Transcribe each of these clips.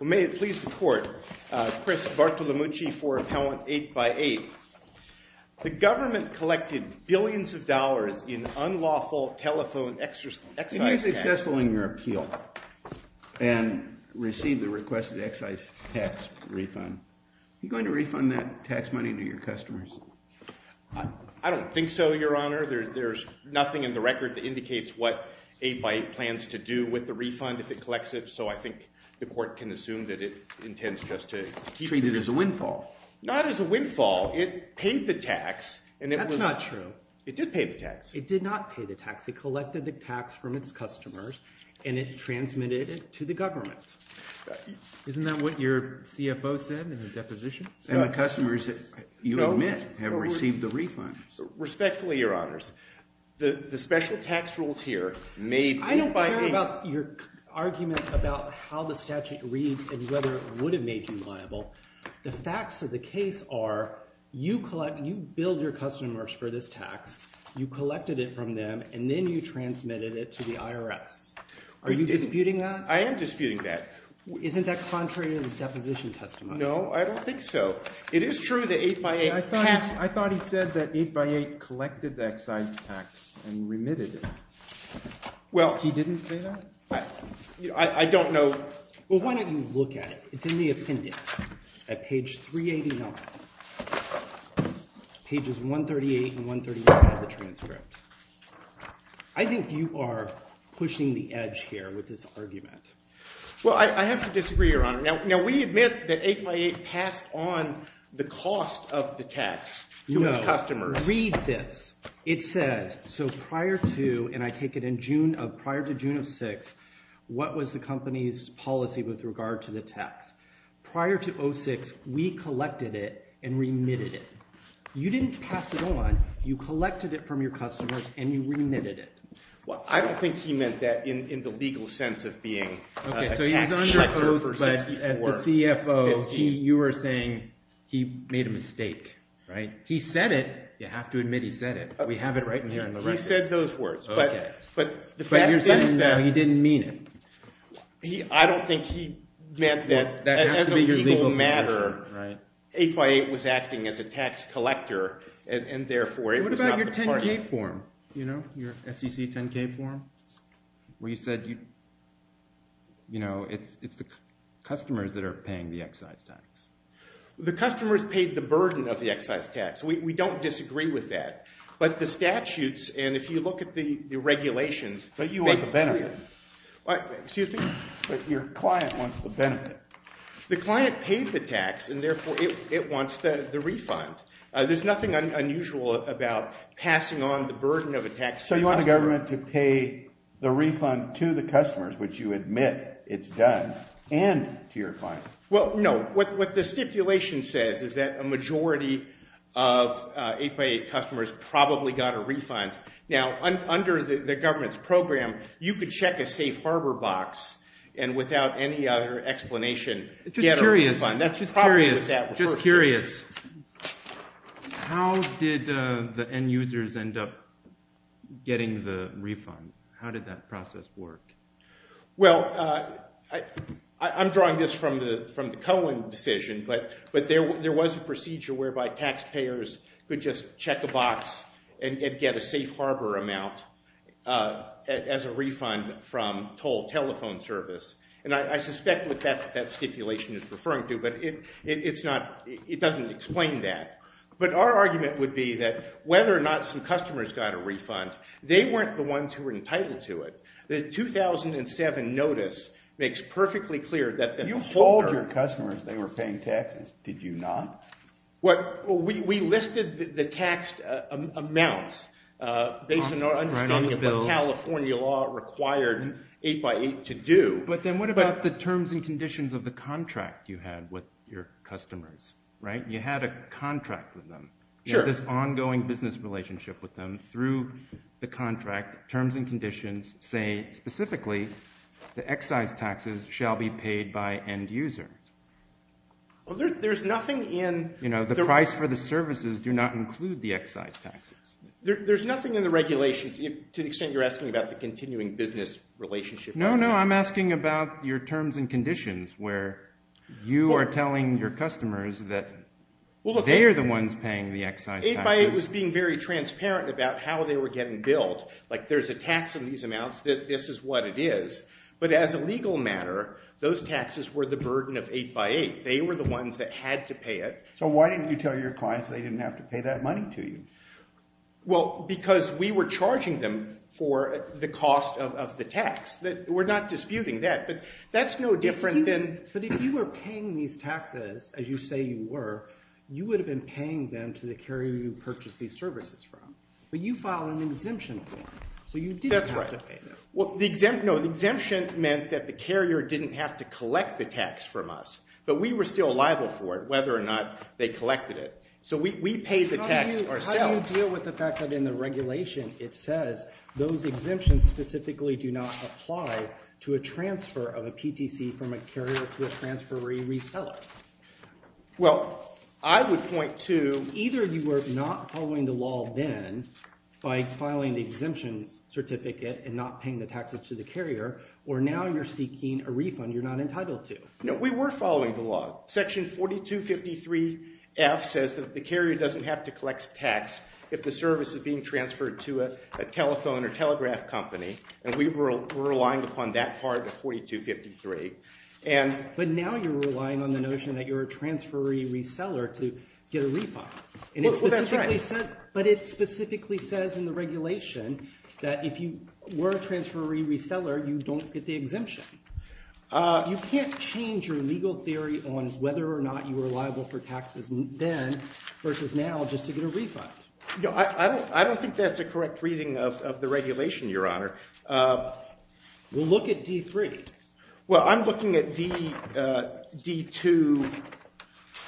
May it please the Court, Chris Bartolomucci for Appellant 8x8. The government collected billions of dollars in unlawful telephone excise tax. And you're successful in your appeal and received the requested excise tax refund. Are you going to refund that tax money to your customers? I don't think so, Your Honor. There's nothing in the record that indicates what 8x8 plans to do with the refund if it collects it, so I think the Court can assume that it intends just to keep it. Treat it as a windfall. Not as a windfall. It paid the tax. That's not true. It did pay the tax. It did not pay the tax. It collected the tax from its customers, and it transmitted it to the government. Isn't that what your CFO said in the deposition? And the customers, you admit, have received the refund. Respectfully, Your Honors, the special tax rules here made 8x8— I don't care about your argument about how the statute reads and whether it would have made you liable. The facts of the case are you build your customers for this tax, you collected it from them, and then you transmitted it to the IRS. Are you disputing that? I am disputing that. Isn't that contrary to the deposition testimony? No, I don't think so. It is true that 8x8— I thought he said that 8x8 collected the excise tax and remitted it. Well, he didn't say that? I don't know. Well, why don't you look at it? It's in the appendix at page 389, pages 138 and 139 of the transcript. I think you are pushing the edge here with this argument. Well, I have to disagree, Your Honor. Now, we admit that 8x8 passed on the cost of the tax to its customers. Read this. It says, so prior to—and I take it in June of—prior to June of 2006, what was the company's policy with regard to the tax? Prior to 2006, we collected it and remitted it. You didn't pass it on. You collected it from your customers, and you remitted it. Well, I don't think he meant that in the legal sense of being a tax— Okay, so he was under oath, but as the CFO, you are saying he made a mistake, right? He said it. You have to admit he said it. We have it right in here in the record. He said those words. But the fact is that— But you're saying he didn't mean it. I don't think he meant that as a legal matter, 8x8 was acting as a tax collector, and therefore it was not the part of the— What about your 10-K form, you know, your SEC 10-K form, where you said, you know, it's the customers that are paying the excise tax? The customers paid the burden of the excise tax. We don't disagree with that. But the statutes, and if you look at the regulations— But you want the benefit. Excuse me? But your client wants the benefit. The client paid the tax, and therefore it wants the refund. There's nothing unusual about passing on the burden of a tax to a customer. So you want the government to pay the refund to the customers, which you admit it's done, and to your client. Well, no. What the stipulation says is that a majority of 8x8 customers probably got a refund. Now, under the government's program, you could check a safe harbor box and without any other explanation get a refund. Just curious. That's probably what that refers to. Just curious. How did the end users end up getting the refund? How did that process work? Well, I'm drawing this from the Cohen decision, but there was a procedure whereby taxpayers could just check a box and get a safe harbor amount as a refund from toll telephone service. And I suspect what that stipulation is referring to, but it doesn't explain that. But our argument would be that whether or not some customers got a refund, they weren't the ones who were entitled to it. The 2007 notice makes perfectly clear that the holder— You called your customers they were paying taxes. Did you not? We listed the taxed amounts based on our understanding of what California law required 8x8 to do. But then what about the terms and conditions of the contract you had with your customers? You had a contract with them. You had this ongoing business relationship with them through the contract, terms and conditions saying specifically the excise taxes shall be paid by end user. Well, there's nothing in— You know, the price for the services do not include the excise taxes. There's nothing in the regulations to the extent you're asking about the continuing business relationship. No, no, I'm asking about your terms and conditions where you are telling your customers that they are the ones paying the excise taxes. 8x8 was being very transparent about how they were getting billed. Like there's a tax on these amounts. This is what it is. But as a legal matter, those taxes were the burden of 8x8. They were the ones that had to pay it. So why didn't you tell your clients they didn't have to pay that money to you? Well, because we were charging them for the cost of the tax. We're not disputing that. But that's no different than— But if you were paying these taxes, as you say you were, you would have been paying them to the carrier you purchased these services from. But you filed an exemption for them, so you didn't have to pay them. That's right. No, the exemption meant that the carrier didn't have to collect the tax from us. But we were still liable for it, whether or not they collected it. So we paid the tax ourselves. How do you deal with the fact that in the regulation it says those exemptions specifically do not apply to a transfer of a PTC from a carrier to a transferee reseller? Well, I would point to either you were not following the law then by filing the exemption certificate and not paying the taxes to the carrier, or now you're seeking a refund you're not entitled to. No, we were following the law. Section 4253F says that the carrier doesn't have to collect tax if the service is being transferred to a telephone or telegraph company, and we were relying upon that part of 4253. But now you're relying on the notion that you're a transferee reseller to get a refund. Well, that's right. But it specifically says in the regulation that if you were a transferee reseller, you don't get the exemption. You can't change your legal theory on whether or not you were liable for taxes then versus now just to get a refund. I don't think that's a correct reading of the regulation, Your Honor. Well, look at D3. Well, I'm looking at D2.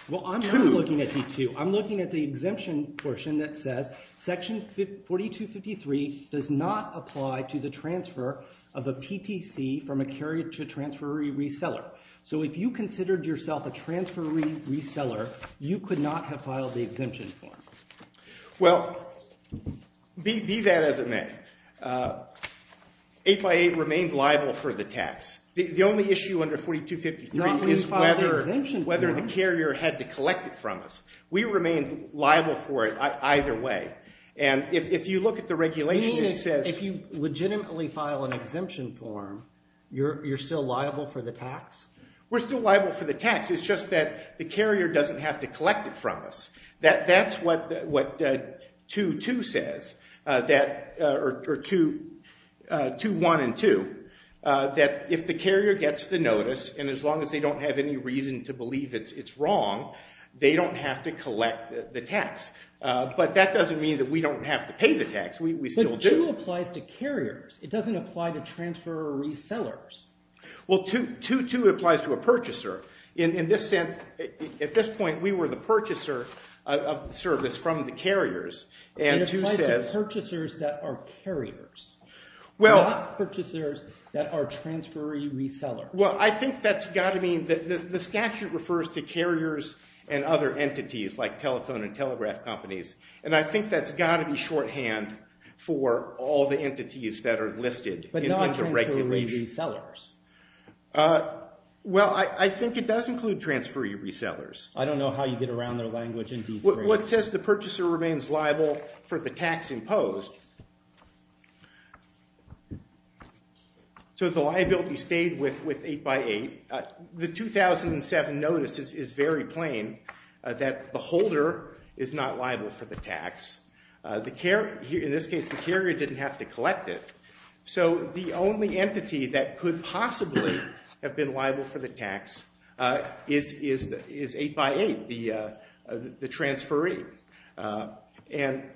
Well, I'm not looking at D2. I'm looking at the exemption portion that says Section 4253 does not apply to the transfer of a PTC from a carrier to a transferee reseller. So if you considered yourself a transferee reseller, you could not have filed the exemption form. Well, be that as it may, 8 by 8 remained liable for the tax. The only issue under 4253 is whether the carrier had to collect it from us. We remained liable for it either way. And if you look at the regulation, it says— You mean if you legitimately file an exemption form, you're still liable for the tax? We're still liable for the tax. It's just that the carrier doesn't have to collect it from us. That's what 2.2 says, or 2.1 and 2, that if the carrier gets the notice, and as long as they don't have any reason to believe it's wrong, they don't have to collect the tax. But that doesn't mean that we don't have to pay the tax. We still do. But 2.2 applies to carriers. It doesn't apply to transferee sellers. Well, 2.2 applies to a purchaser. In this sense, at this point, we were the purchaser of the service from the carriers, and 2 says— It applies to purchasers that are carriers, not purchasers that are transferee resellers. Well, I think that's got to mean—the statute refers to carriers and other entities like telephone and telegraph companies, and I think that's got to be shorthand for all the entities that are listed in the regulation. But not transferee resellers. Well, I think it does include transferee resellers. I don't know how you get around their language in D3. Well, it says the purchaser remains liable for the tax imposed. So the liability stayed with 8x8. The 2007 notice is very plain that the holder is not liable for the tax. In this case, the carrier didn't have to collect it. So the only entity that could possibly have been liable for the tax is 8x8, the transferee. And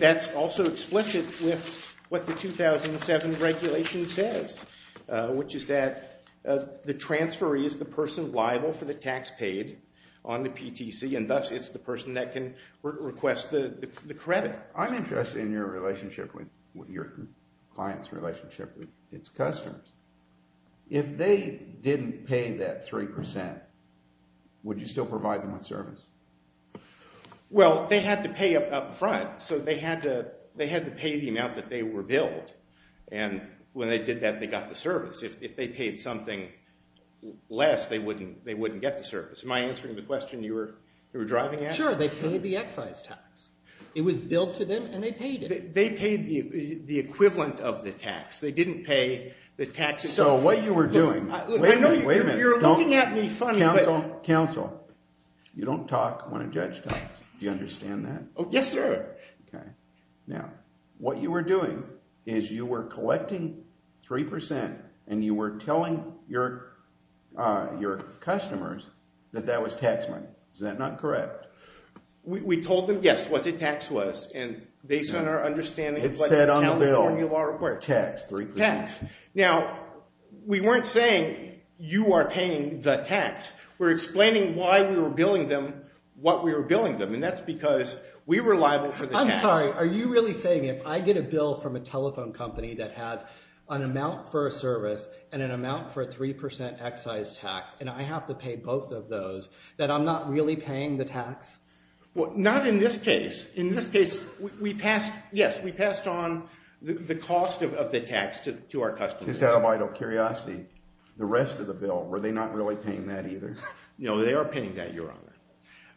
that's also explicit with what the 2007 regulation says, which is that the transferee is the person liable for the tax paid on the PTC, and thus it's the person that can request the credit. I'm interested in your client's relationship with its customers. If they didn't pay that 3%, would you still provide them with service? Well, they had to pay up front, so they had to pay the amount that they were billed. And when they did that, they got the service. If they paid something less, they wouldn't get the service. Am I answering the question you were driving at? Sure, they paid the excise tax. It was billed to them, and they paid it. They paid the equivalent of the tax. They didn't pay the tax itself. So what you were doing— Wait a minute, wait a minute. You're looking at me funny. Counsel, counsel, you don't talk when a judge talks. Do you understand that? Yes, sir. Okay. Now, what you were doing is you were collecting 3%, and you were telling your customers that that was tax money. Is that not correct? We told them, yes, what the tax was, and based on our understanding of what the California law requires. It said on the bill, tax, 3%. Tax. Now, we weren't saying you are paying the tax. We're explaining why we were billing them what we were billing them, and that's because we were liable for the tax. I'm sorry. Are you really saying if I get a bill from a telephone company that has an amount for a service and an amount for a 3% excise tax, and I have to pay both of those, that I'm not really paying the tax? Well, not in this case. In this case, yes, we passed on the cost of the tax to our customers. Just out of vital curiosity, the rest of the bill, were they not really paying that either? No, they are paying that, Your Honor.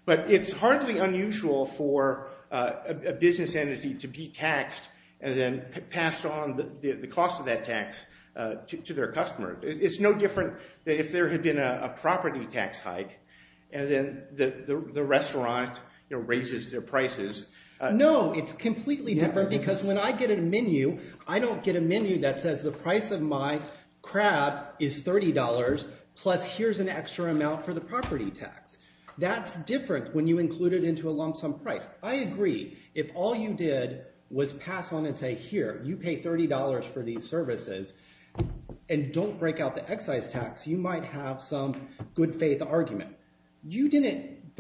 But it's hardly unusual for a business entity to be taxed and then pass on the cost of that tax to their customer. It's no different than if there had been a property tax hike and then the restaurant raises their prices. No, it's completely different because when I get a menu, I don't get a menu that says the price of my crab is $30 plus here's an extra amount for the property tax. That's different when you include it into a long-sum price. I agree. If all you did was pass on and say, here, you pay $30 for these services and don't break out the excise tax, you might have some good faith argument. You didn't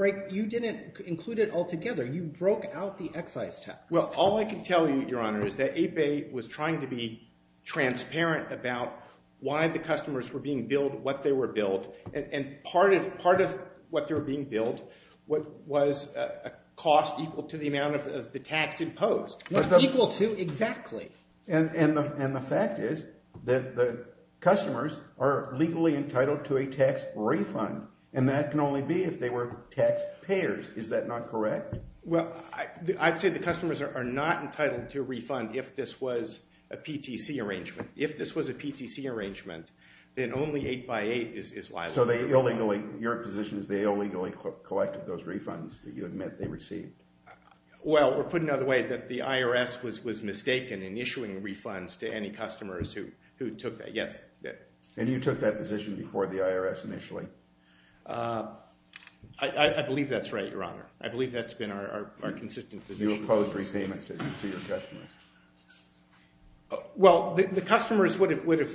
include it altogether. You broke out the excise tax. Well, all I can tell you, Your Honor, is that APEI was trying to be transparent about why the customers were being billed what they were billed. And part of what they were being billed was a cost equal to the amount of the tax imposed. Equal to? Exactly. And the fact is that the customers are legally entitled to a tax refund, and that can only be if they were tax payers. Is that not correct? Well, I'd say the customers are not entitled to a refund if this was a PTC arrangement. Then only 8 by 8 is liable. So your position is they illegally collected those refunds that you admit they received? Well, we're putting it out of the way that the IRS was mistaken in issuing refunds to any customers who took that. And you took that position before the IRS initially? I believe that's right, Your Honor. I believe that's been our consistent position. You opposed repayment to your customers? Well, the customers would have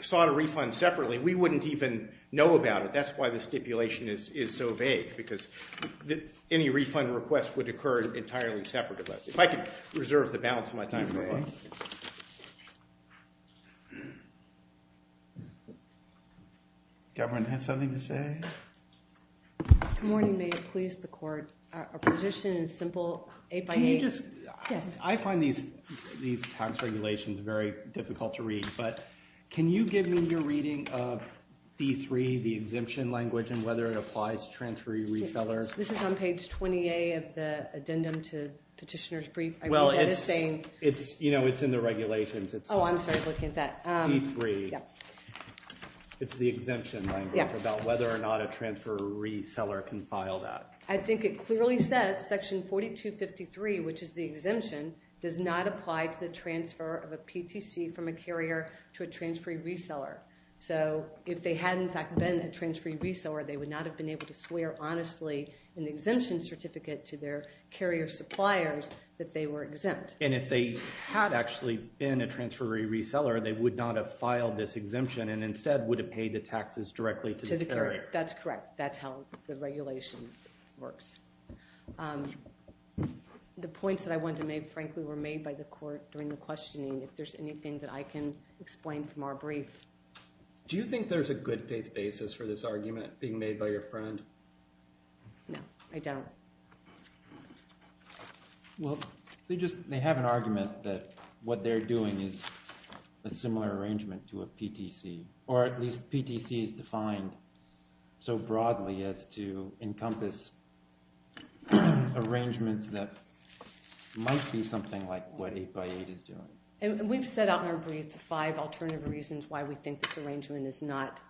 sought a refund separately. We wouldn't even know about it. That's why the stipulation is so vague, because any refund request would occur entirely separate of us. If I could reserve the balance of my time for a moment. Governor has something to say? Good morning. May it please the Court. Our position is simple, 8 by 8. I find these tax regulations very difficult to read. But can you give me your reading of D3, the exemption language, and whether it applies to transferee resellers? This is on page 20A of the addendum to Petitioner's Brief. Well, it's in the regulations. Oh, I'm sorry. I was looking at that. D3. It's the exemption language about whether or not a transfer reseller can file that. I think it clearly says section 4253, which is the exemption, does not apply to the transfer of a PTC from a carrier to a transferee reseller. So if they had, in fact, been a transferee reseller, they would not have been able to swear honestly in the exemption certificate to their carrier suppliers that they were exempt. And if they had actually been a transferee reseller, they would not have filed this exemption and instead would have paid the taxes directly to the carrier. That's correct. That's how the regulation works. The points that I wanted to make, frankly, were made by the court during the questioning. If there's anything that I can explain from our brief. Do you think there's a good faith basis for this argument being made by your friend? No, I don't. Well, they have an argument that what they're doing is a similar arrangement to a PTC, or at least PTC is defined so broadly as to encompass arrangements that might be something like what 8x8 is doing. And we've set out in our brief five alternative reasons why we think this arrangement is not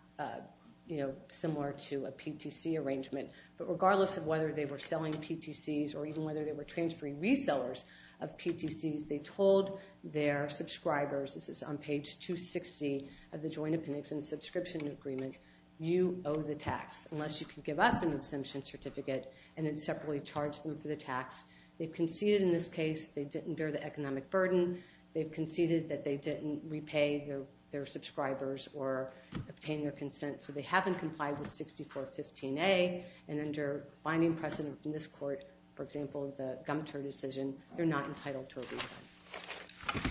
similar to a PTC arrangement. But regardless of whether they were selling PTCs or even whether they were transferee resellers of PTCs, they told their subscribers, this is on page 260 of the Joint Appendix and Subscription Agreement, you owe the tax unless you can give us an exemption certificate and then separately charge them for the tax. They've conceded in this case they didn't bear the economic burden. They've conceded that they didn't repay their subscribers or obtain their consent. So they haven't complied with 6415A. And under binding precedent from this court, for example, the Gumtur decision, they're not entitled to a refund.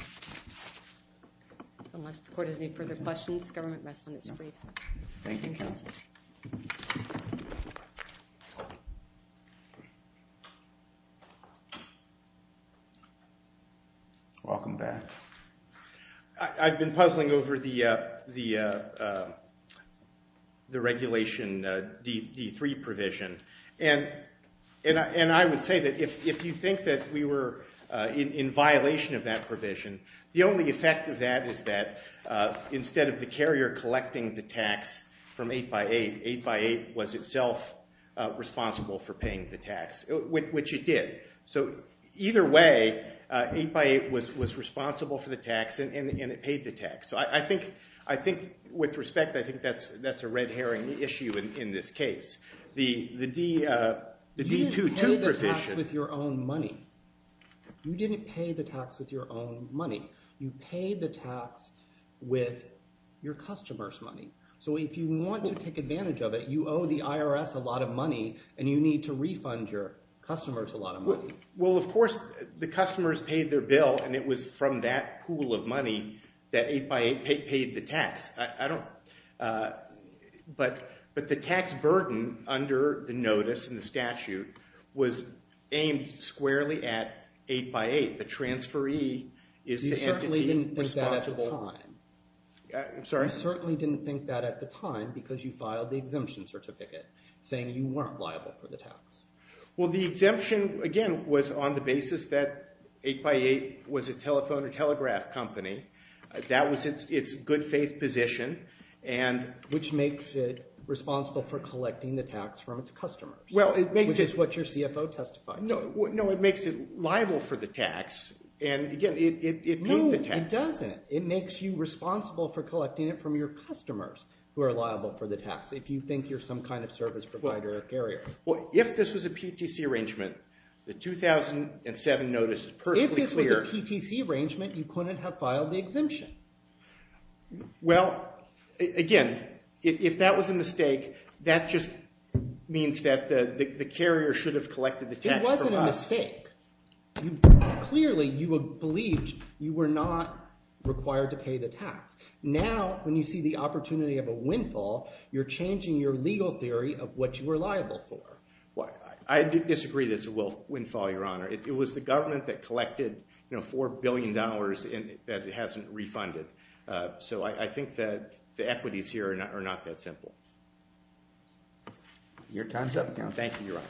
Unless the court has any further questions, the government rest on its feet. Thank you, counsel. Welcome back. I've been puzzling over the regulation D3 provision. And I would say that if you think that we were in violation of that provision, the only effect of that is that instead of the carrier collecting the tax from 8x8, 8x8 was itself responsible for paying the tax, which it did. So either way, 8x8 was responsible for the tax and it paid the tax. So I think with respect, I think that's a red herring issue in this case. The D2 provision – You didn't pay the tax with your own money. You didn't pay the tax with your own money. You paid the tax with your customers' money. So if you want to take advantage of it, you owe the IRS a lot of money and you need to refund your customers a lot of money. Well, of course, the customers paid their bill and it was from that pool of money that 8x8 paid the tax. But the tax burden under the notice and the statute was aimed squarely at 8x8. The transferee is the entity responsible – You certainly didn't think that at the time. I'm sorry? You certainly didn't think that at the time because you filed the exemption certificate saying you weren't liable for the tax. Well, the exemption, again, was on the basis that 8x8 was a telephone or telegraph company. That was its good faith position and – Which makes it responsible for collecting the tax from its customers. Well, it makes it – Which is what your CFO testified to. No, it makes it liable for the tax and, again, it paid the tax. It doesn't. It makes you responsible for collecting it from your customers who are liable for the tax if you think you're some kind of service provider or carrier. Well, if this was a PTC arrangement, the 2007 notice is personally clear – If this was a PTC arrangement, you couldn't have filed the exemption. Well, again, if that was a mistake, that just means that the carrier should have collected the tax from us. It wasn't a mistake. Clearly, you believed you were not required to pay the tax. Now, when you see the opportunity of a windfall, you're changing your legal theory of what you were liable for. I disagree that it's a windfall, Your Honor. It was the government that collected $4 billion that it hasn't refunded. So I think that the equities here are not that simple. Thank you, Your Honor.